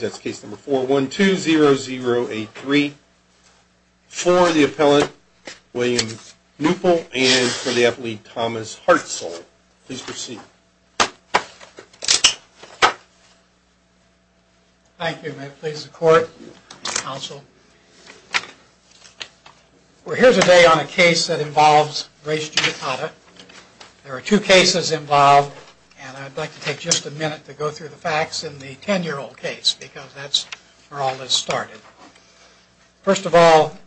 That's case number 4-1-2-0-0-8-3 for the appellant William Neupel and for the appellate Thomas Hartzell. Please proceed. Thank you. May it please the court, counsel. Well, here's a day on a case that involves race judicata. There are two cases involved and I'd like to take just a minute to go through the facts in the 10-year-old case because that's where all this started. First of all,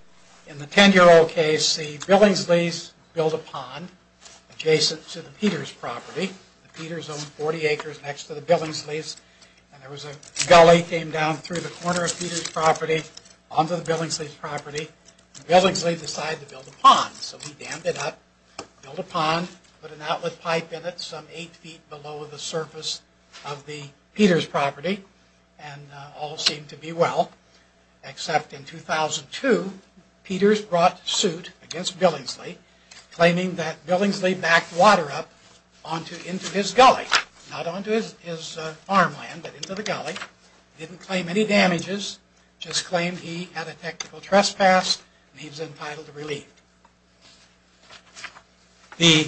in the 10-year-old case, the Billingsleys built a pond adjacent to the Peters property. The Peters owned 40 acres next to the Billingsleys and there was a gully that came down through the corner of Peters property onto the Billingsleys property. The Billingsleys decided to build a pond so he dammed it up, built a pond, put an outlet pipe in it some 8 feet below the surface of the Peters property and all seemed to be well. Except in 2002, Peters brought suit against Billingsley, claiming that Billingsley backed water up into his gully, not onto his farmland but into the gully, didn't claim any damages, just claimed he had a technical trespass and he was entitled to relief. The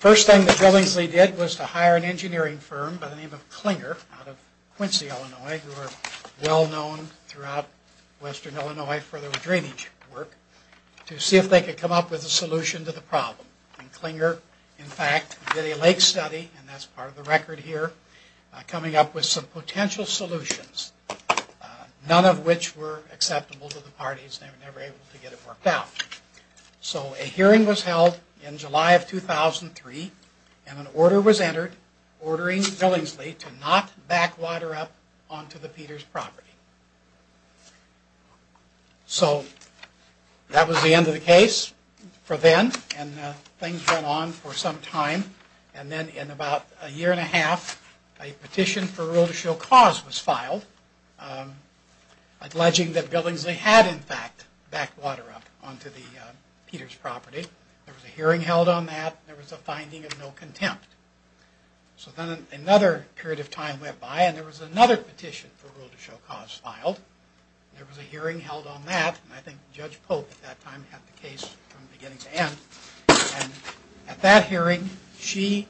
first thing that Billingsley did was to hire an engineering firm by the name of Clinger out of Quincy, Illinois, who are well known throughout western Illinois for their drainage work, to see if they could come up with a solution to the problem. Clinger, in fact, did a lake study, and that's part of the record here, coming up with some potential solutions, none of which were acceptable to the parties and they were never able to get it worked out. So a hearing was held in July of 2003 and an order was entered ordering Billingsley to not back water up onto the Peters property. So that was the end of the case for then and things went on for some time and then in about a year and a half a petition for rule to show cause was filed, alleging that Billingsley had in fact backed water up onto the Peters property. There was a hearing held on that and there was a finding of no contempt. So then another period of time went by and there was another petition for rule to show cause filed. There was a hearing held on that and I think Judge Pope at that time had the case from beginning to end. And at that hearing she,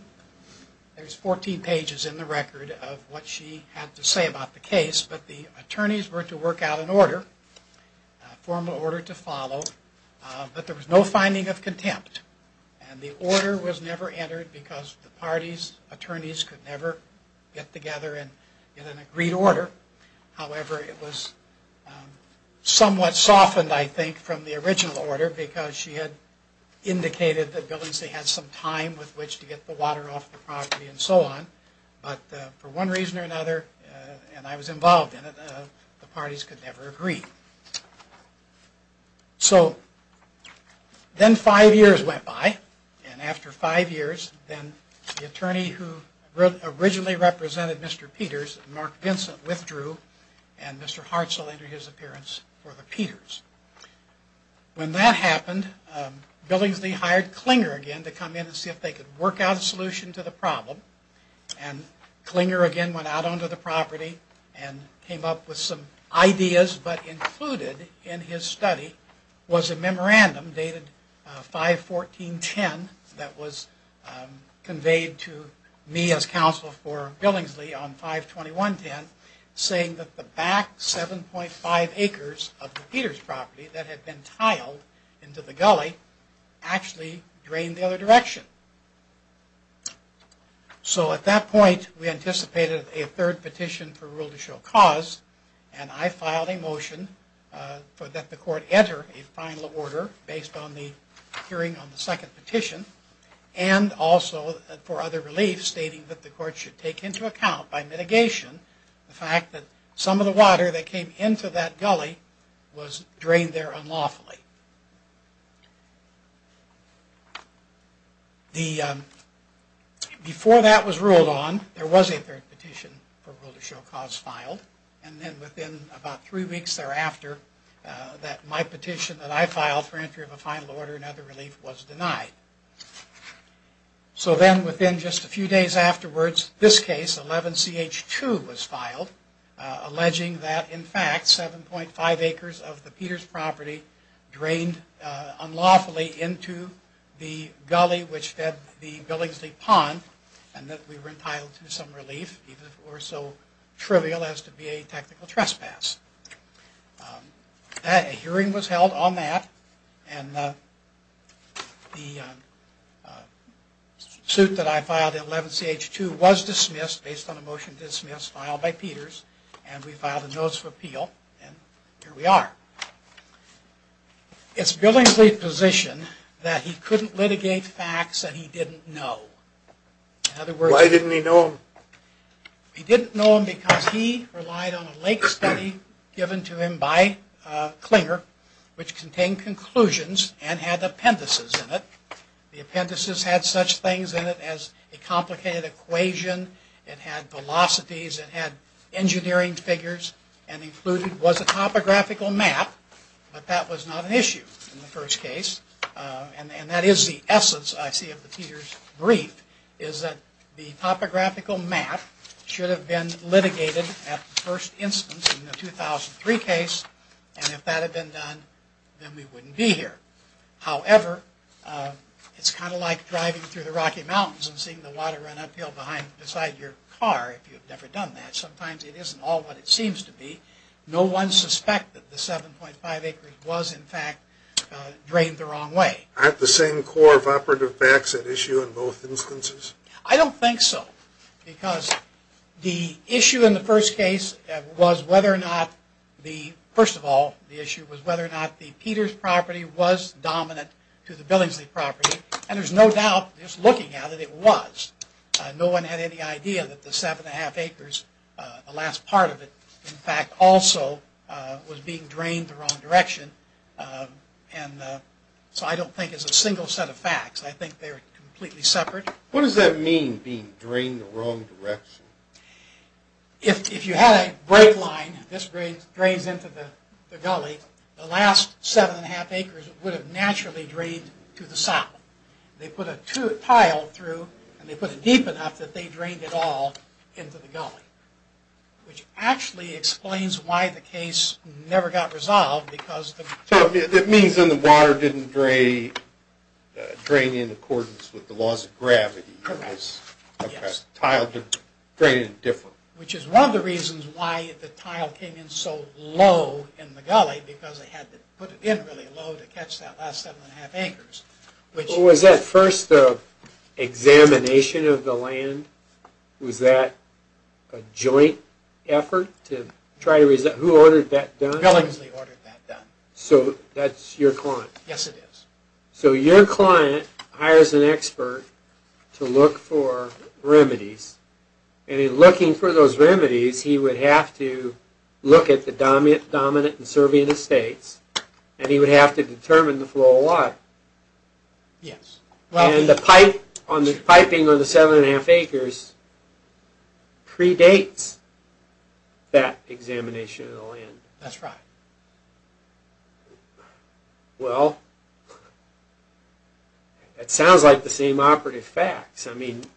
there's 14 pages in the record of what she had to say about the case, but the attorneys were to work out an order, a formal order to follow, but there was no finding of contempt. And the order was never entered because the parties, attorneys could never get together in an agreed order. However, it was somewhat softened, I think, from the original order because she had indicated that Billingsley had some time with which to get the water off the property and so on. But for one reason or another, and I was involved in it, the parties could never agree. So then five years went by and after five years then the attorney who originally represented Mr. Peters, Mark Vincent, withdrew and Mr. Hartsell entered his appearance for the Peters. When that happened, Billingsley hired Clinger again to come in and see if they could work out a solution to the problem. And Clinger again went out onto the property and came up with some ideas but in what he concluded in his study was a memorandum dated 5-14-10 that was conveyed to me as counsel for Billingsley on 5-21-10 saying that the back 7.5 acres of the Peters property that had been tiled into the gully actually drained the other direction. So at that point we anticipated a third petition for rule to show cause and I filed a motion for that the court enter a final order based on the hearing on the second petition and also for other relief stating that the court should take into account by mitigation the fact that some of the water that came into that gully was drained there unlawfully. Before that was ruled on there was a third petition for rule to show cause filed and then within about three weeks thereafter that my petition that I filed for entry of a final order and other relief was denied. So then within just a few days afterwards this case 11CH2 was filed alleging that in fact 7.5 acres of the Peters property drained unlawfully into the gully which fed the Billingsley pond and that we were entitled to some relief even if it were so trivial as to be a technical trespass. A hearing was held on that and the suit that I filed in 11CH2 was dismissed based on a motion dismissed filed by Peters and we filed a notice of appeal and here we are. It's Billingsley's position that he couldn't litigate facts that he didn't know. Why didn't he know them? He didn't know them because he relied on a late study given to him by Clinger which contained conclusions and had appendices in it. The appendices had such things in it as a complicated equation, it had velocities, it had engineering figures and included was a topographical map but that was not an issue in the first case. And that is the essence I see of the Peters brief is that the topographical map should have been litigated at the first instance in the 2003 case and if that had been done then we wouldn't be here. However, it's kind of like driving through the Rocky Mountains and seeing the water run uphill beside your car if you've never done that. Sometimes it isn't all what it seems to be. No one suspected the 7.5 acres was in fact drained the wrong way. Aren't the same core of operative facts at issue in both instances? I don't think so because the issue in the first case was whether or not the Peters property was dominant to the Billingsley property and there's no doubt just looking at it, it was. No one had any idea that the 7.5 acres, the last part of it, in fact also was being drained the wrong direction and so I don't think it's a single set of facts. I think they're completely separate. What does that mean, being drained the wrong direction? If you had a break line, this drains into the gully, the last 7.5 acres would have naturally drained to the south. They put a tile through and they put it deep enough that they drained it all into the gully, which actually explains why the case never got resolved. It means then the water didn't drain in accordance with the laws of gravity. Correct. The tile didn't drain in a different way. Which is one of the reasons why the tile came in so low in the gully because they had to put it in really low to catch that last 7.5 acres. Was that first examination of the land, was that a joint effort to try to resolve, who ordered that done? So that's your client? Yes it is. So your client hires an expert to look for remedies and in looking for those remedies he would have to look at the dominant and servient estates and he would have to determine the flow of water. Yes. And the piping on the 7.5 acres predates that examination of the land. That's right. Well, it sounds like the same operative facts.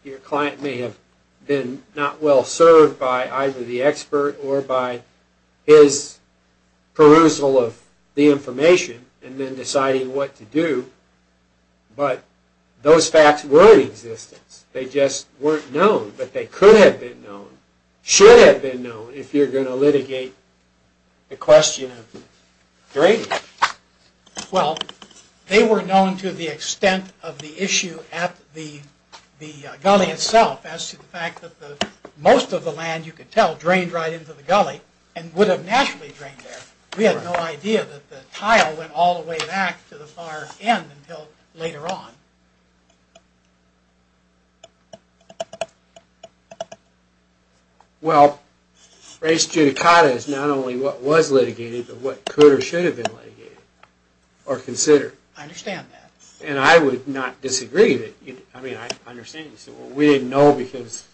Your client may have been not well served by either the expert or by his perusal of the information and then deciding what to do, but those facts were in existence. They just weren't known, but they could have been known, should have been known if you're going to litigate the question of drainage. Well, they were known to the extent of the issue at the gully itself as to the fact that most of the land you could tell drained right into the gully and would have naturally drained there. We had no idea that the tile went all the way back to the far end until later on. Well, race judicata is not only what was litigated, but what could or should have been litigated or considered. I understand that. And I would not disagree. We didn't know because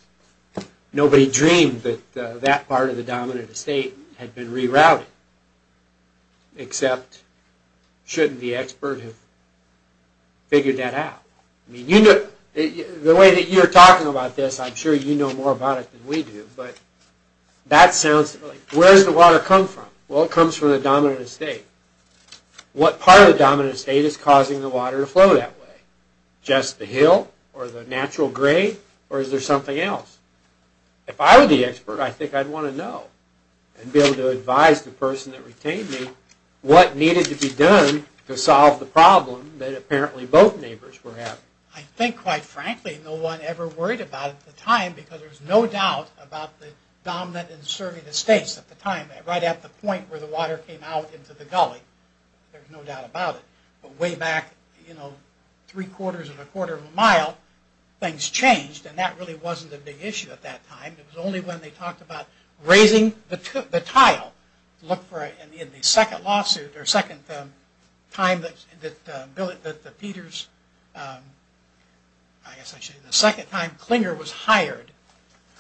nobody dreamed that that part of the dominant estate had been rerouted. Except, shouldn't the expert have figured that out? The way that you're talking about this, I'm sure you know more about it than we do, but that sounds... Where does the water come from? Well, it comes from the dominant estate. What part of the dominant estate is causing the water to flow that way? Just the hill, or the natural grade, or is there something else? If I were the expert, I think I'd want to know and be able to advise the person that retained me what needed to be done to solve the problem that apparently both neighbors were having. I think, quite frankly, no one ever worried about it at the time because there was no doubt about the dominant and surrogate estates at the time. Right at the point where the water came out into the gully, there's no doubt about it. But way back, you know, three quarters of a quarter of a mile, things changed, and that really wasn't a big issue at that time. It was only when they talked about raising the tile. Look for it in the second lawsuit, or second time that Peter's... I guess I should say the second time Clinger was hired.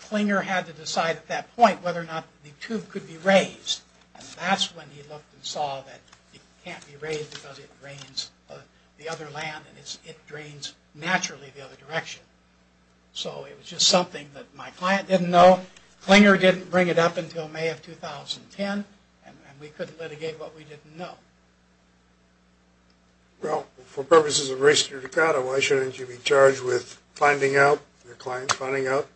Clinger had to decide at that point whether or not the tube could be raised. And that's when he looked and saw that it can't be raised because it drains the other land, and it drains naturally the other direction. So it was just something that my client didn't know. Clinger didn't bring it up until May of 2010, and we couldn't litigate what we didn't know. Well, for purposes of race to your decada, why shouldn't you be charged with finding out, your client finding out,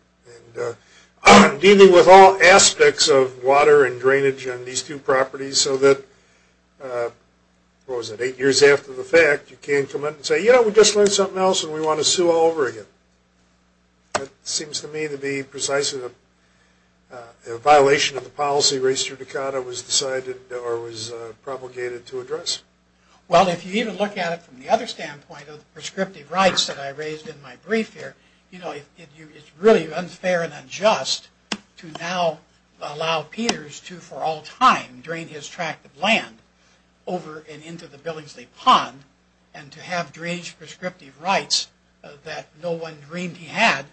and dealing with all aspects of water and drainage on these two properties so that, what was it, eight years after the fact, you can't come in and say, you know, we just learned something else and we want to sue all over again. It seems to me to be precisely a violation of the policy race to your decada was decided or was propagated to address. Well, if you even look at it from the other standpoint of prescriptive rights that I raised in my brief here, you know, it's really unfair and unjust to now allow Peters to, for all time, drain his tract of land over and into the Billingsley Pond and to have drainage prescriptive rights that no one dreamed he had,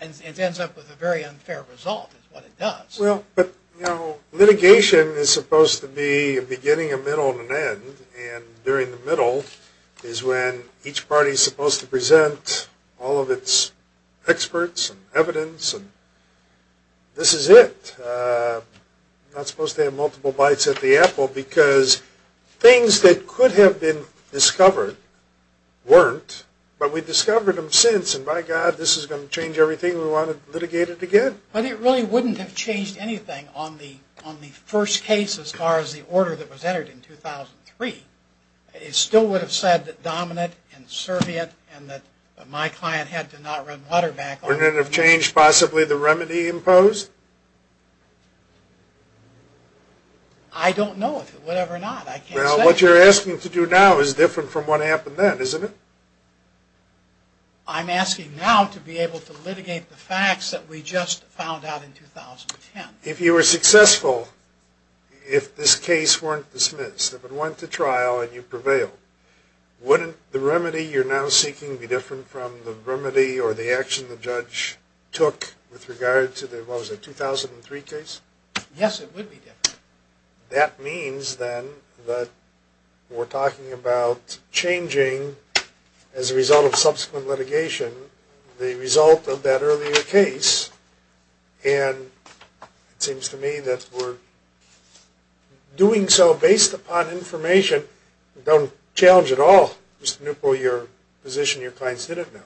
and it ends up with a very unfair result is what it does. Well, but, you know, litigation is supposed to be a beginning, a middle, and an end, and during the middle is when each party is supposed to present all of its experts and evidence and this is it. I'm not supposed to have multiple bites at the apple because things that could have been discovered weren't, but we've discovered them since and, by God, this is going to change everything we want to litigate it again. But it really wouldn't have changed anything on the first case as far as the order that was entered in 2003. It still would have said that Dominant and Serviet and that my client had to not run water back on it. Wouldn't it have changed possibly the remedy imposed? I don't know if it would have or not. Well, what you're asking to do now is different from what happened then, isn't it? I'm asking now to be able to litigate the facts that we just found out in 2010. If you were successful, if this case weren't dismissed, if it went to trial and you prevailed, wouldn't the remedy you're now seeking be different from the remedy or the action the judge took with regard to the 2003 case? Yes, it would be different. That means then that we're talking about changing as a result of subsequent litigation the result of that earlier case and it seems to me that we're doing so based upon information. Don't challenge at all just the nuclear position your clients didn't know.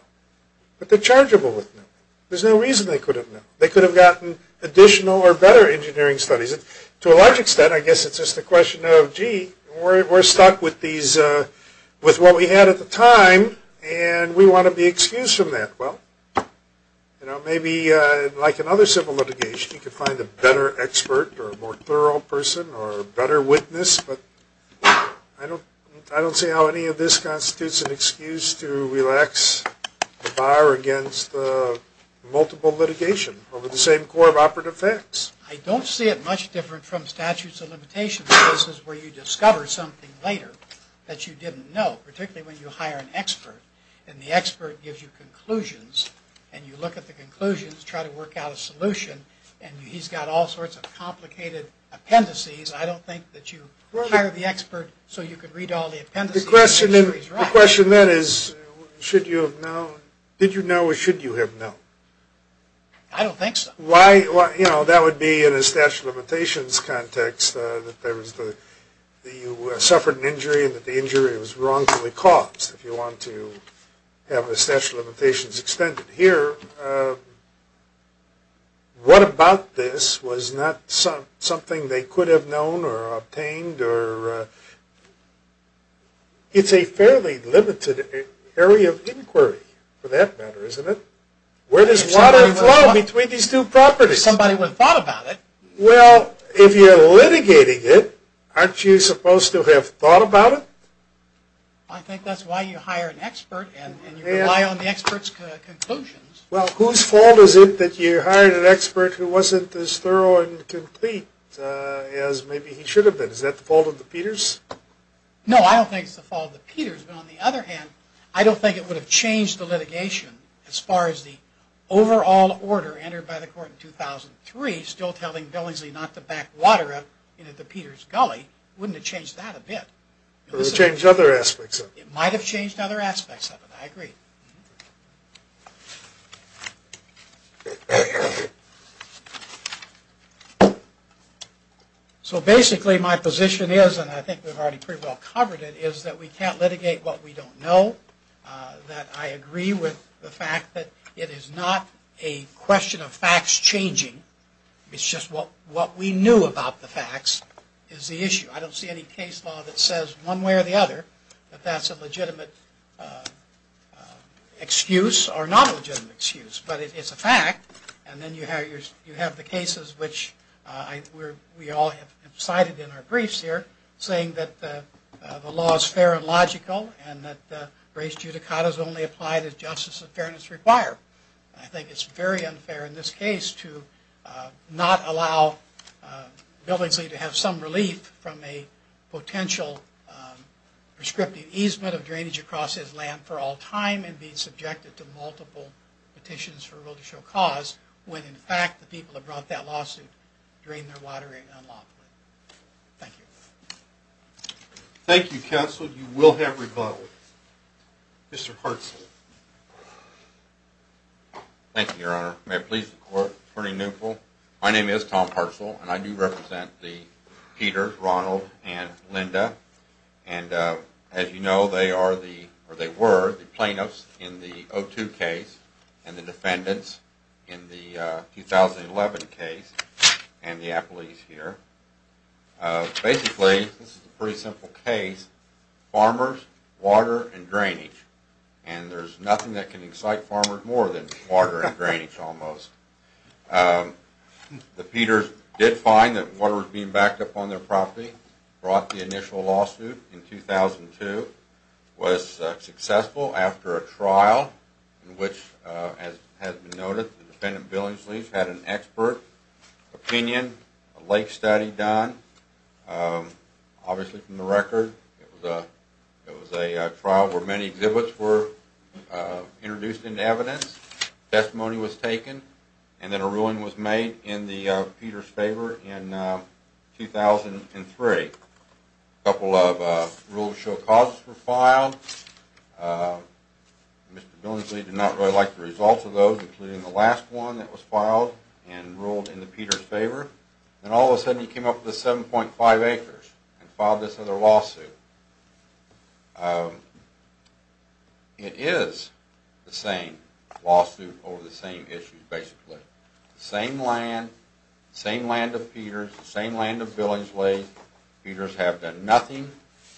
But they're chargeable with nuclear. There's no reason they couldn't know. They could have gotten additional or better engineering studies. To a large extent, I guess it's just a question of, gee, we're stuck with what we had at the time and we want to be excused from that. Well, maybe like in other civil litigation, you could find a better expert or a more thorough person or a better witness, but I don't see how any of this constitutes an excuse to relax the bar against the multiple litigation over the same core of operative facts. I don't see it much different from statutes of limitation cases where you discover something later that you didn't know, particularly when you hire an expert and the expert gives you conclusions and you look at the conclusions, try to work out a solution, and he's got all sorts of complicated appendices. I don't think that you hire the expert so you can read all the appendices. The question then is should you have known? Did you know or should you have known? I don't think so. That would be in a statute of limitations context that you suffered an injury and that the injury was wrongfully caused, if you want to have a statute of limitations extended here. What about this was not something they could have known or obtained? It's a fairly limited area of inquiry for that matter, isn't it? Where does water flow between these two properties? Somebody would have thought about it. Well, if you're litigating it, aren't you supposed to have thought about it? I think that's why you hire an expert and you rely on the expert's conclusions. Well, whose fault is it that you hired an expert who wasn't as thorough and complete as maybe he should have been? Is that the fault of the Peters? On the other hand, I don't think it would have changed the litigation as far as the overall order entered by the court in 2003, still telling Billingsley not to back water up into the Peters' gully. Wouldn't it change that a bit? It would change other aspects of it. It might have changed other aspects of it. I agree. So basically my position is, and I think we've already pretty well covered it, is that we can't litigate what we don't know. That I agree with the fact that it is not a question of facts changing. It's just what we knew about the facts is the issue. I don't see any case law that says one way or the other that that's a legitimate excuse or not a legitimate excuse. But it's a fact. And then you have the cases which we all have cited in our briefs here, saying that the law is fair and logical and that race judicata is only applied as justice and fairness require. I think it's very unfair in this case to not allow Billingsley to have some relief from a potential prescriptive easement of drainage across his land for all time and be subjected to multiple petitions for a will to show cause when in fact the people who brought that lawsuit drained their water in unlawfully. Thank you. Thank you, counsel. You will have rebuttal. Mr. Hartzell. Thank you, Your Honor. May I please report, Attorney Newell? My name is Tom Hartzell, and I do represent the Peters, Ronald, and Linda. And as you know, they are the, or they were, the plaintiffs in the 02 case and the defendants in the 2011 case and the appellees here. Basically, this is a pretty simple case. Farmers, water, and drainage. And there's nothing that can excite farmers more than water and drainage almost. The Peters did find that water was being backed up on their property, brought the initial lawsuit in 2002, was successful after a trial in which, as has been noted, the defendant, Billingsley, had an expert opinion, a late study done, obviously from the record. It was a trial where many exhibits were introduced into evidence, testimony was taken, and then a ruling was made in the Peters' favor in 2003. Mr. Billingsley did not really like the results of those, including the last one that was filed and ruled in the Peters' favor. And all of a sudden he came up with 7.5 acres and filed this other lawsuit. It is the same lawsuit over the same issues, basically. Same land, same land of Peters, same land of Billingsley. The Peters have done nothing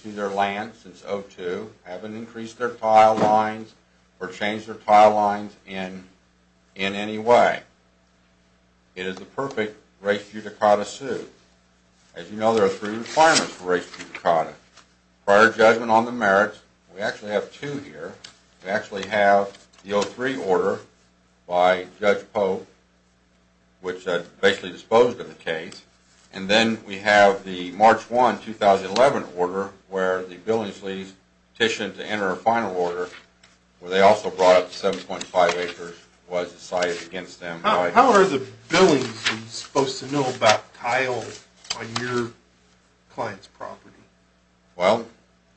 to their land since 2002, haven't increased their tile lines or changed their tile lines in any way. It is the perfect race judicata suit. As you know, there are three requirements for race judicata. Prior judgment on the merits, we actually have two here. We actually have the 03 order by Judge Pope, which basically disposed of the case. And then we have the March 1, 2011 order where the Billingsleys petitioned to enter a final order where they also brought up 7.5 acres was decided against them. How are the Billingsleys supposed to know about tile on your client's property? Well,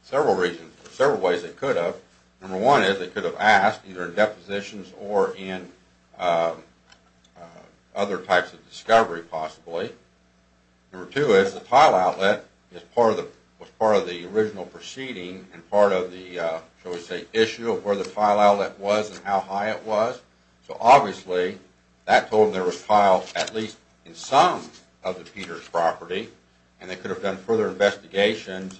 several reasons. There are several ways they could have. Number one is they could have asked, either in depositions or in other types of discovery possibly. Number two is the tile outlet was part of the original proceeding and part of the, shall we say, issue of where the tile outlet was and how high it was. So obviously, that told them there was tile at least in some of the Peters' property. And they could have done further investigations.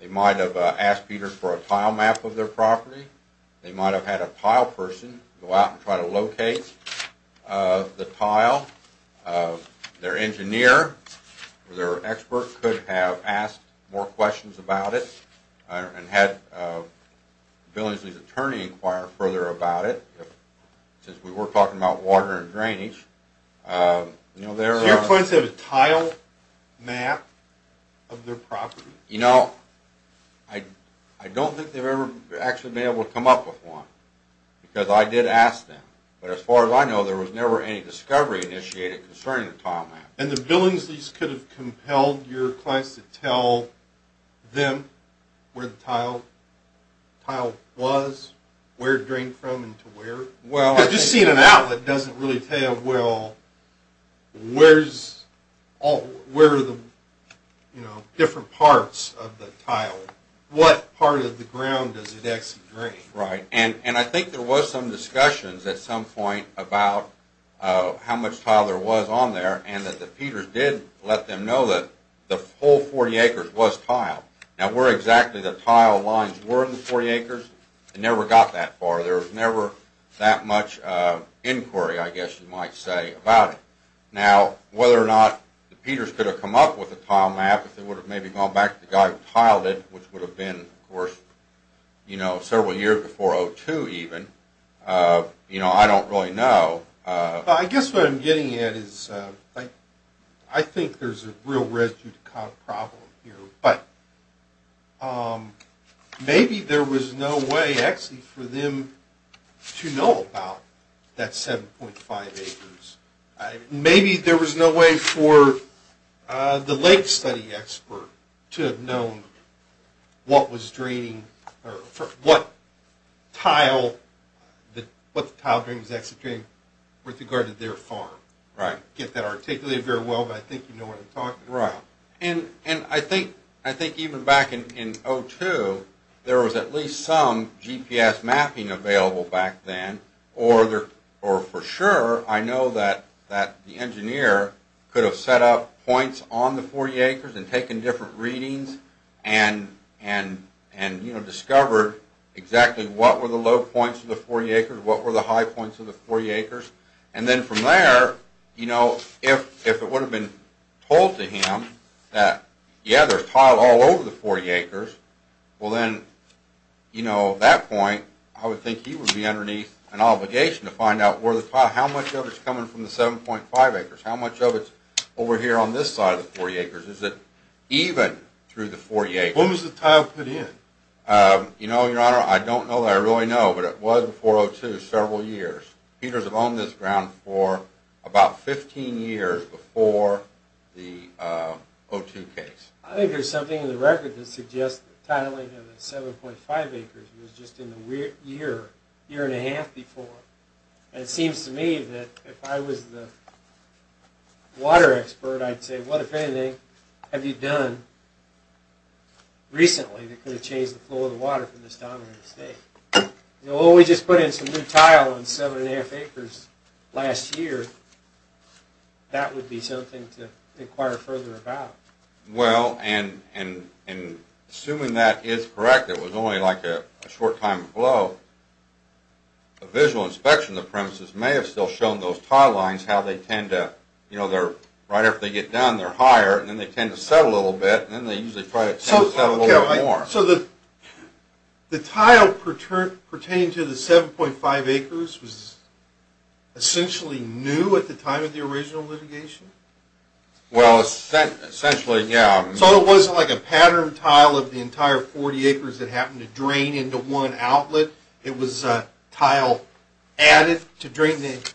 They might have asked Peters for a tile map of their property. They might have had a tile person go out and try to locate the tile. Their engineer or their expert could have asked more questions about it and had Billingsleys' attorney inquire further about it since we were talking about water and drainage. So your client said a tile map of their property? You know, I don't think they've ever actually been able to come up with one because I did ask them. But as far as I know, there was never any discovery initiated concerning the tile map. And the Billingsleys could have compelled your clients to tell them where the tile was, where it drained from and to where? Well, I think... Because just seeing an outlet doesn't really tell you, well, where are the different parts of the tile? What part of the ground does it actually drain? Right. And I think there was some discussions at some point about how much tile there was on there and that the Peters did let them know that the whole 40 acres was tiled. Now, where exactly the tile lines were in the 40 acres, they never got that far. There was never that much inquiry, I guess you might say, about it. Now, whether or not the Peters could have come up with a tile map, if they would have maybe gone back to the guy who tiled it, which would have been, of course, several years before 2002 even, you know, I don't really know. I guess what I'm getting at is I think there's a real residue problem here. But maybe there was no way actually for them to know about that 7.5 acres. Maybe there was no way for the late study expert to have known what the tile drain was actually draining with regard to their farm. Right. I can't articulate that very well, but I think you know what I'm talking about. Right. And I think even back in 2002, there was at least some GPS mapping available back then, or for sure, I know that the engineer could have set up points on the 40 acres and taken different readings and discovered exactly what were the low points of the 40 acres, what were the high points of the 40 acres. And then from there, you know, if it would have been told to him that, yeah, there's tile all over the 40 acres, well then, you know, at that point, I would think he would be underneath an obligation to find out how much of it's coming from the 7.5 acres. How much of it's over here on this side of the 40 acres? Is it even through the 40 acres? When was the tile put in? You know, Your Honor, I don't know that I really know, but it was before 2002 several years. Peters had owned this ground for about 15 years before the 2002 case. I think there's something in the record that suggests the tiling of the 7.5 acres was just in the year, year and a half before. And it seems to me that if I was the water expert, I'd say, what, if anything, have you done recently that could have changed the flow of the water from this dominant state? You know, well, we just put in some new tile on 7.5 acres last year. That would be something to inquire further about. Well, and assuming that is correct, it was only like a short time flow, a visual inspection of the premises may have still shown those tile lines how they tend to, you know, right after they get done, they're higher, and then they tend to settle a little bit, and then they usually try to settle a little bit more. So the tile pertaining to the 7.5 acres was essentially new at the time of the original litigation? Well, essentially, yeah. So it wasn't like a pattern tile of the entire 40 acres that happened to drain into one outlet? It was tile added to drain the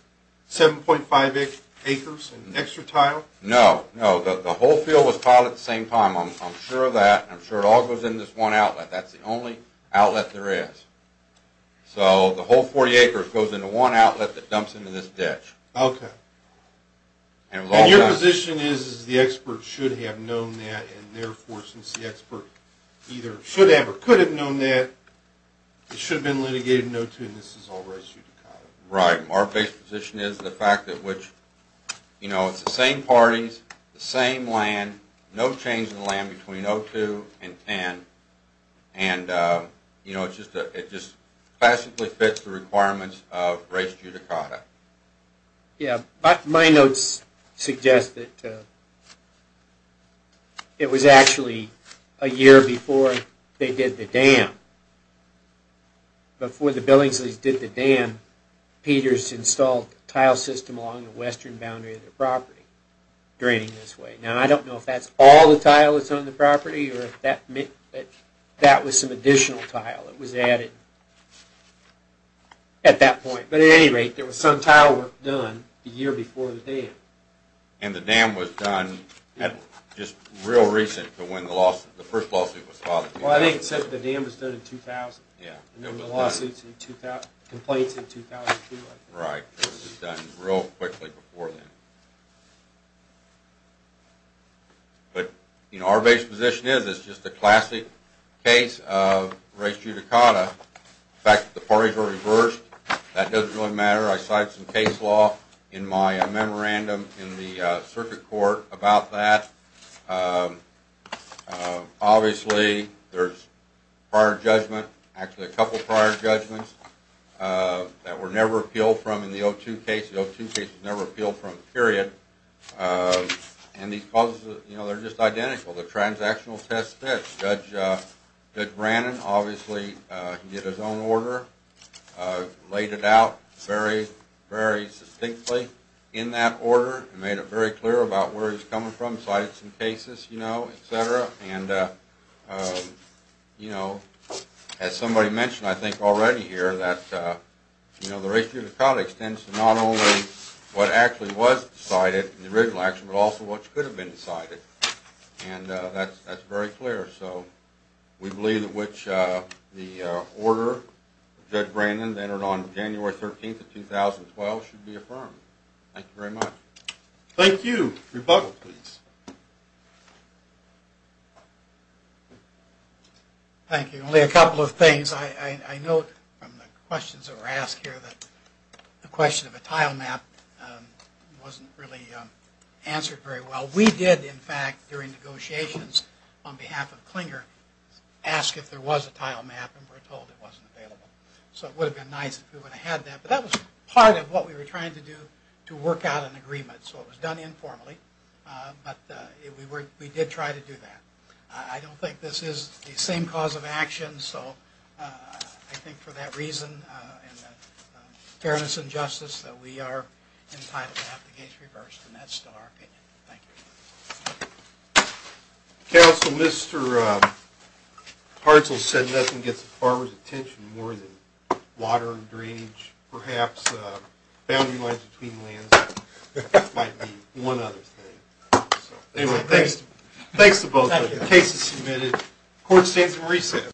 7.5 acres and extra tile? No, no. The whole field was tiled at the same time. I'm sure of that, and I'm sure it all goes into this one outlet. That's the only outlet there is. So the whole 40 acres goes into one outlet that dumps into this ditch. Okay. And your position is the expert should have known that, and therefore since the expert either should have or could have known that, it should have been litigated in 02, and this is all res judicata? Right. Our basic position is the fact that which, you know, it's the same parties, the same land, no change in the land between 02 and 10, and, you know, it just classically fits the requirements of res judicata. Yeah, but my notes suggest that it was actually a year before they did the dam. Before the Billingsleys did the dam, Peters installed a tile system along the western boundary of the property draining this way. Now, I don't know if that's all the tile that's on the property, or if that was some additional tile that was added at that point. But at any rate, there was some tile work done the year before the dam. And the dam was done just real recent to when the first lawsuit was filed. Well, I think it said the dam was done in 2000. Yeah, it was done. And there were lawsuits and complaints in 2002, I think. Right. It was done real quickly before then. But, you know, our base position is it's just a classic case of res judicata. In fact, the parties were reversed. That doesn't really matter. I cite some case law in my memorandum in the circuit court about that. Obviously, there's prior judgment, actually a couple prior judgments, that were never appealed from in the 02 case. The 02 case was never appealed from, period. And these clauses, you know, they're just identical. The transactional test fits. Judge Brannon, obviously, he did his own order, laid it out very, very succinctly in that order, and made it very clear about where he's coming from, cited some cases, you know, et cetera. And, you know, as somebody mentioned, I think, already here, that, you know, the res judicata extends to not only what actually was decided in the original action, but also what could have been decided. And that's very clear. So we believe in which the order Judge Brannon entered on January 13th of 2012 should be affirmed. Thank you very much. Thank you. Rebuttal, please. Thank you. Only a couple of things. I note from the questions that were asked here that the question of a tile map wasn't really answered very well. We did, in fact, during negotiations on behalf of Clinger, ask if there was a tile map, and we were told it wasn't available. So it would have been nice if we would have had that. But that was part of what we were trying to do to work out an agreement. So it was done informally. But we did try to do that. I don't think this is the same cause of action. So I think for that reason and the fairness and justice that we are entitled to have the case reversed. And that's still our opinion. Thank you. Counsel, Mr. Hartzell said nothing gets the farmer's attention more than water and drainage, perhaps boundary lines between lands. That might be one other thing. Thanks to both of you. The case is submitted. Court stands in recess.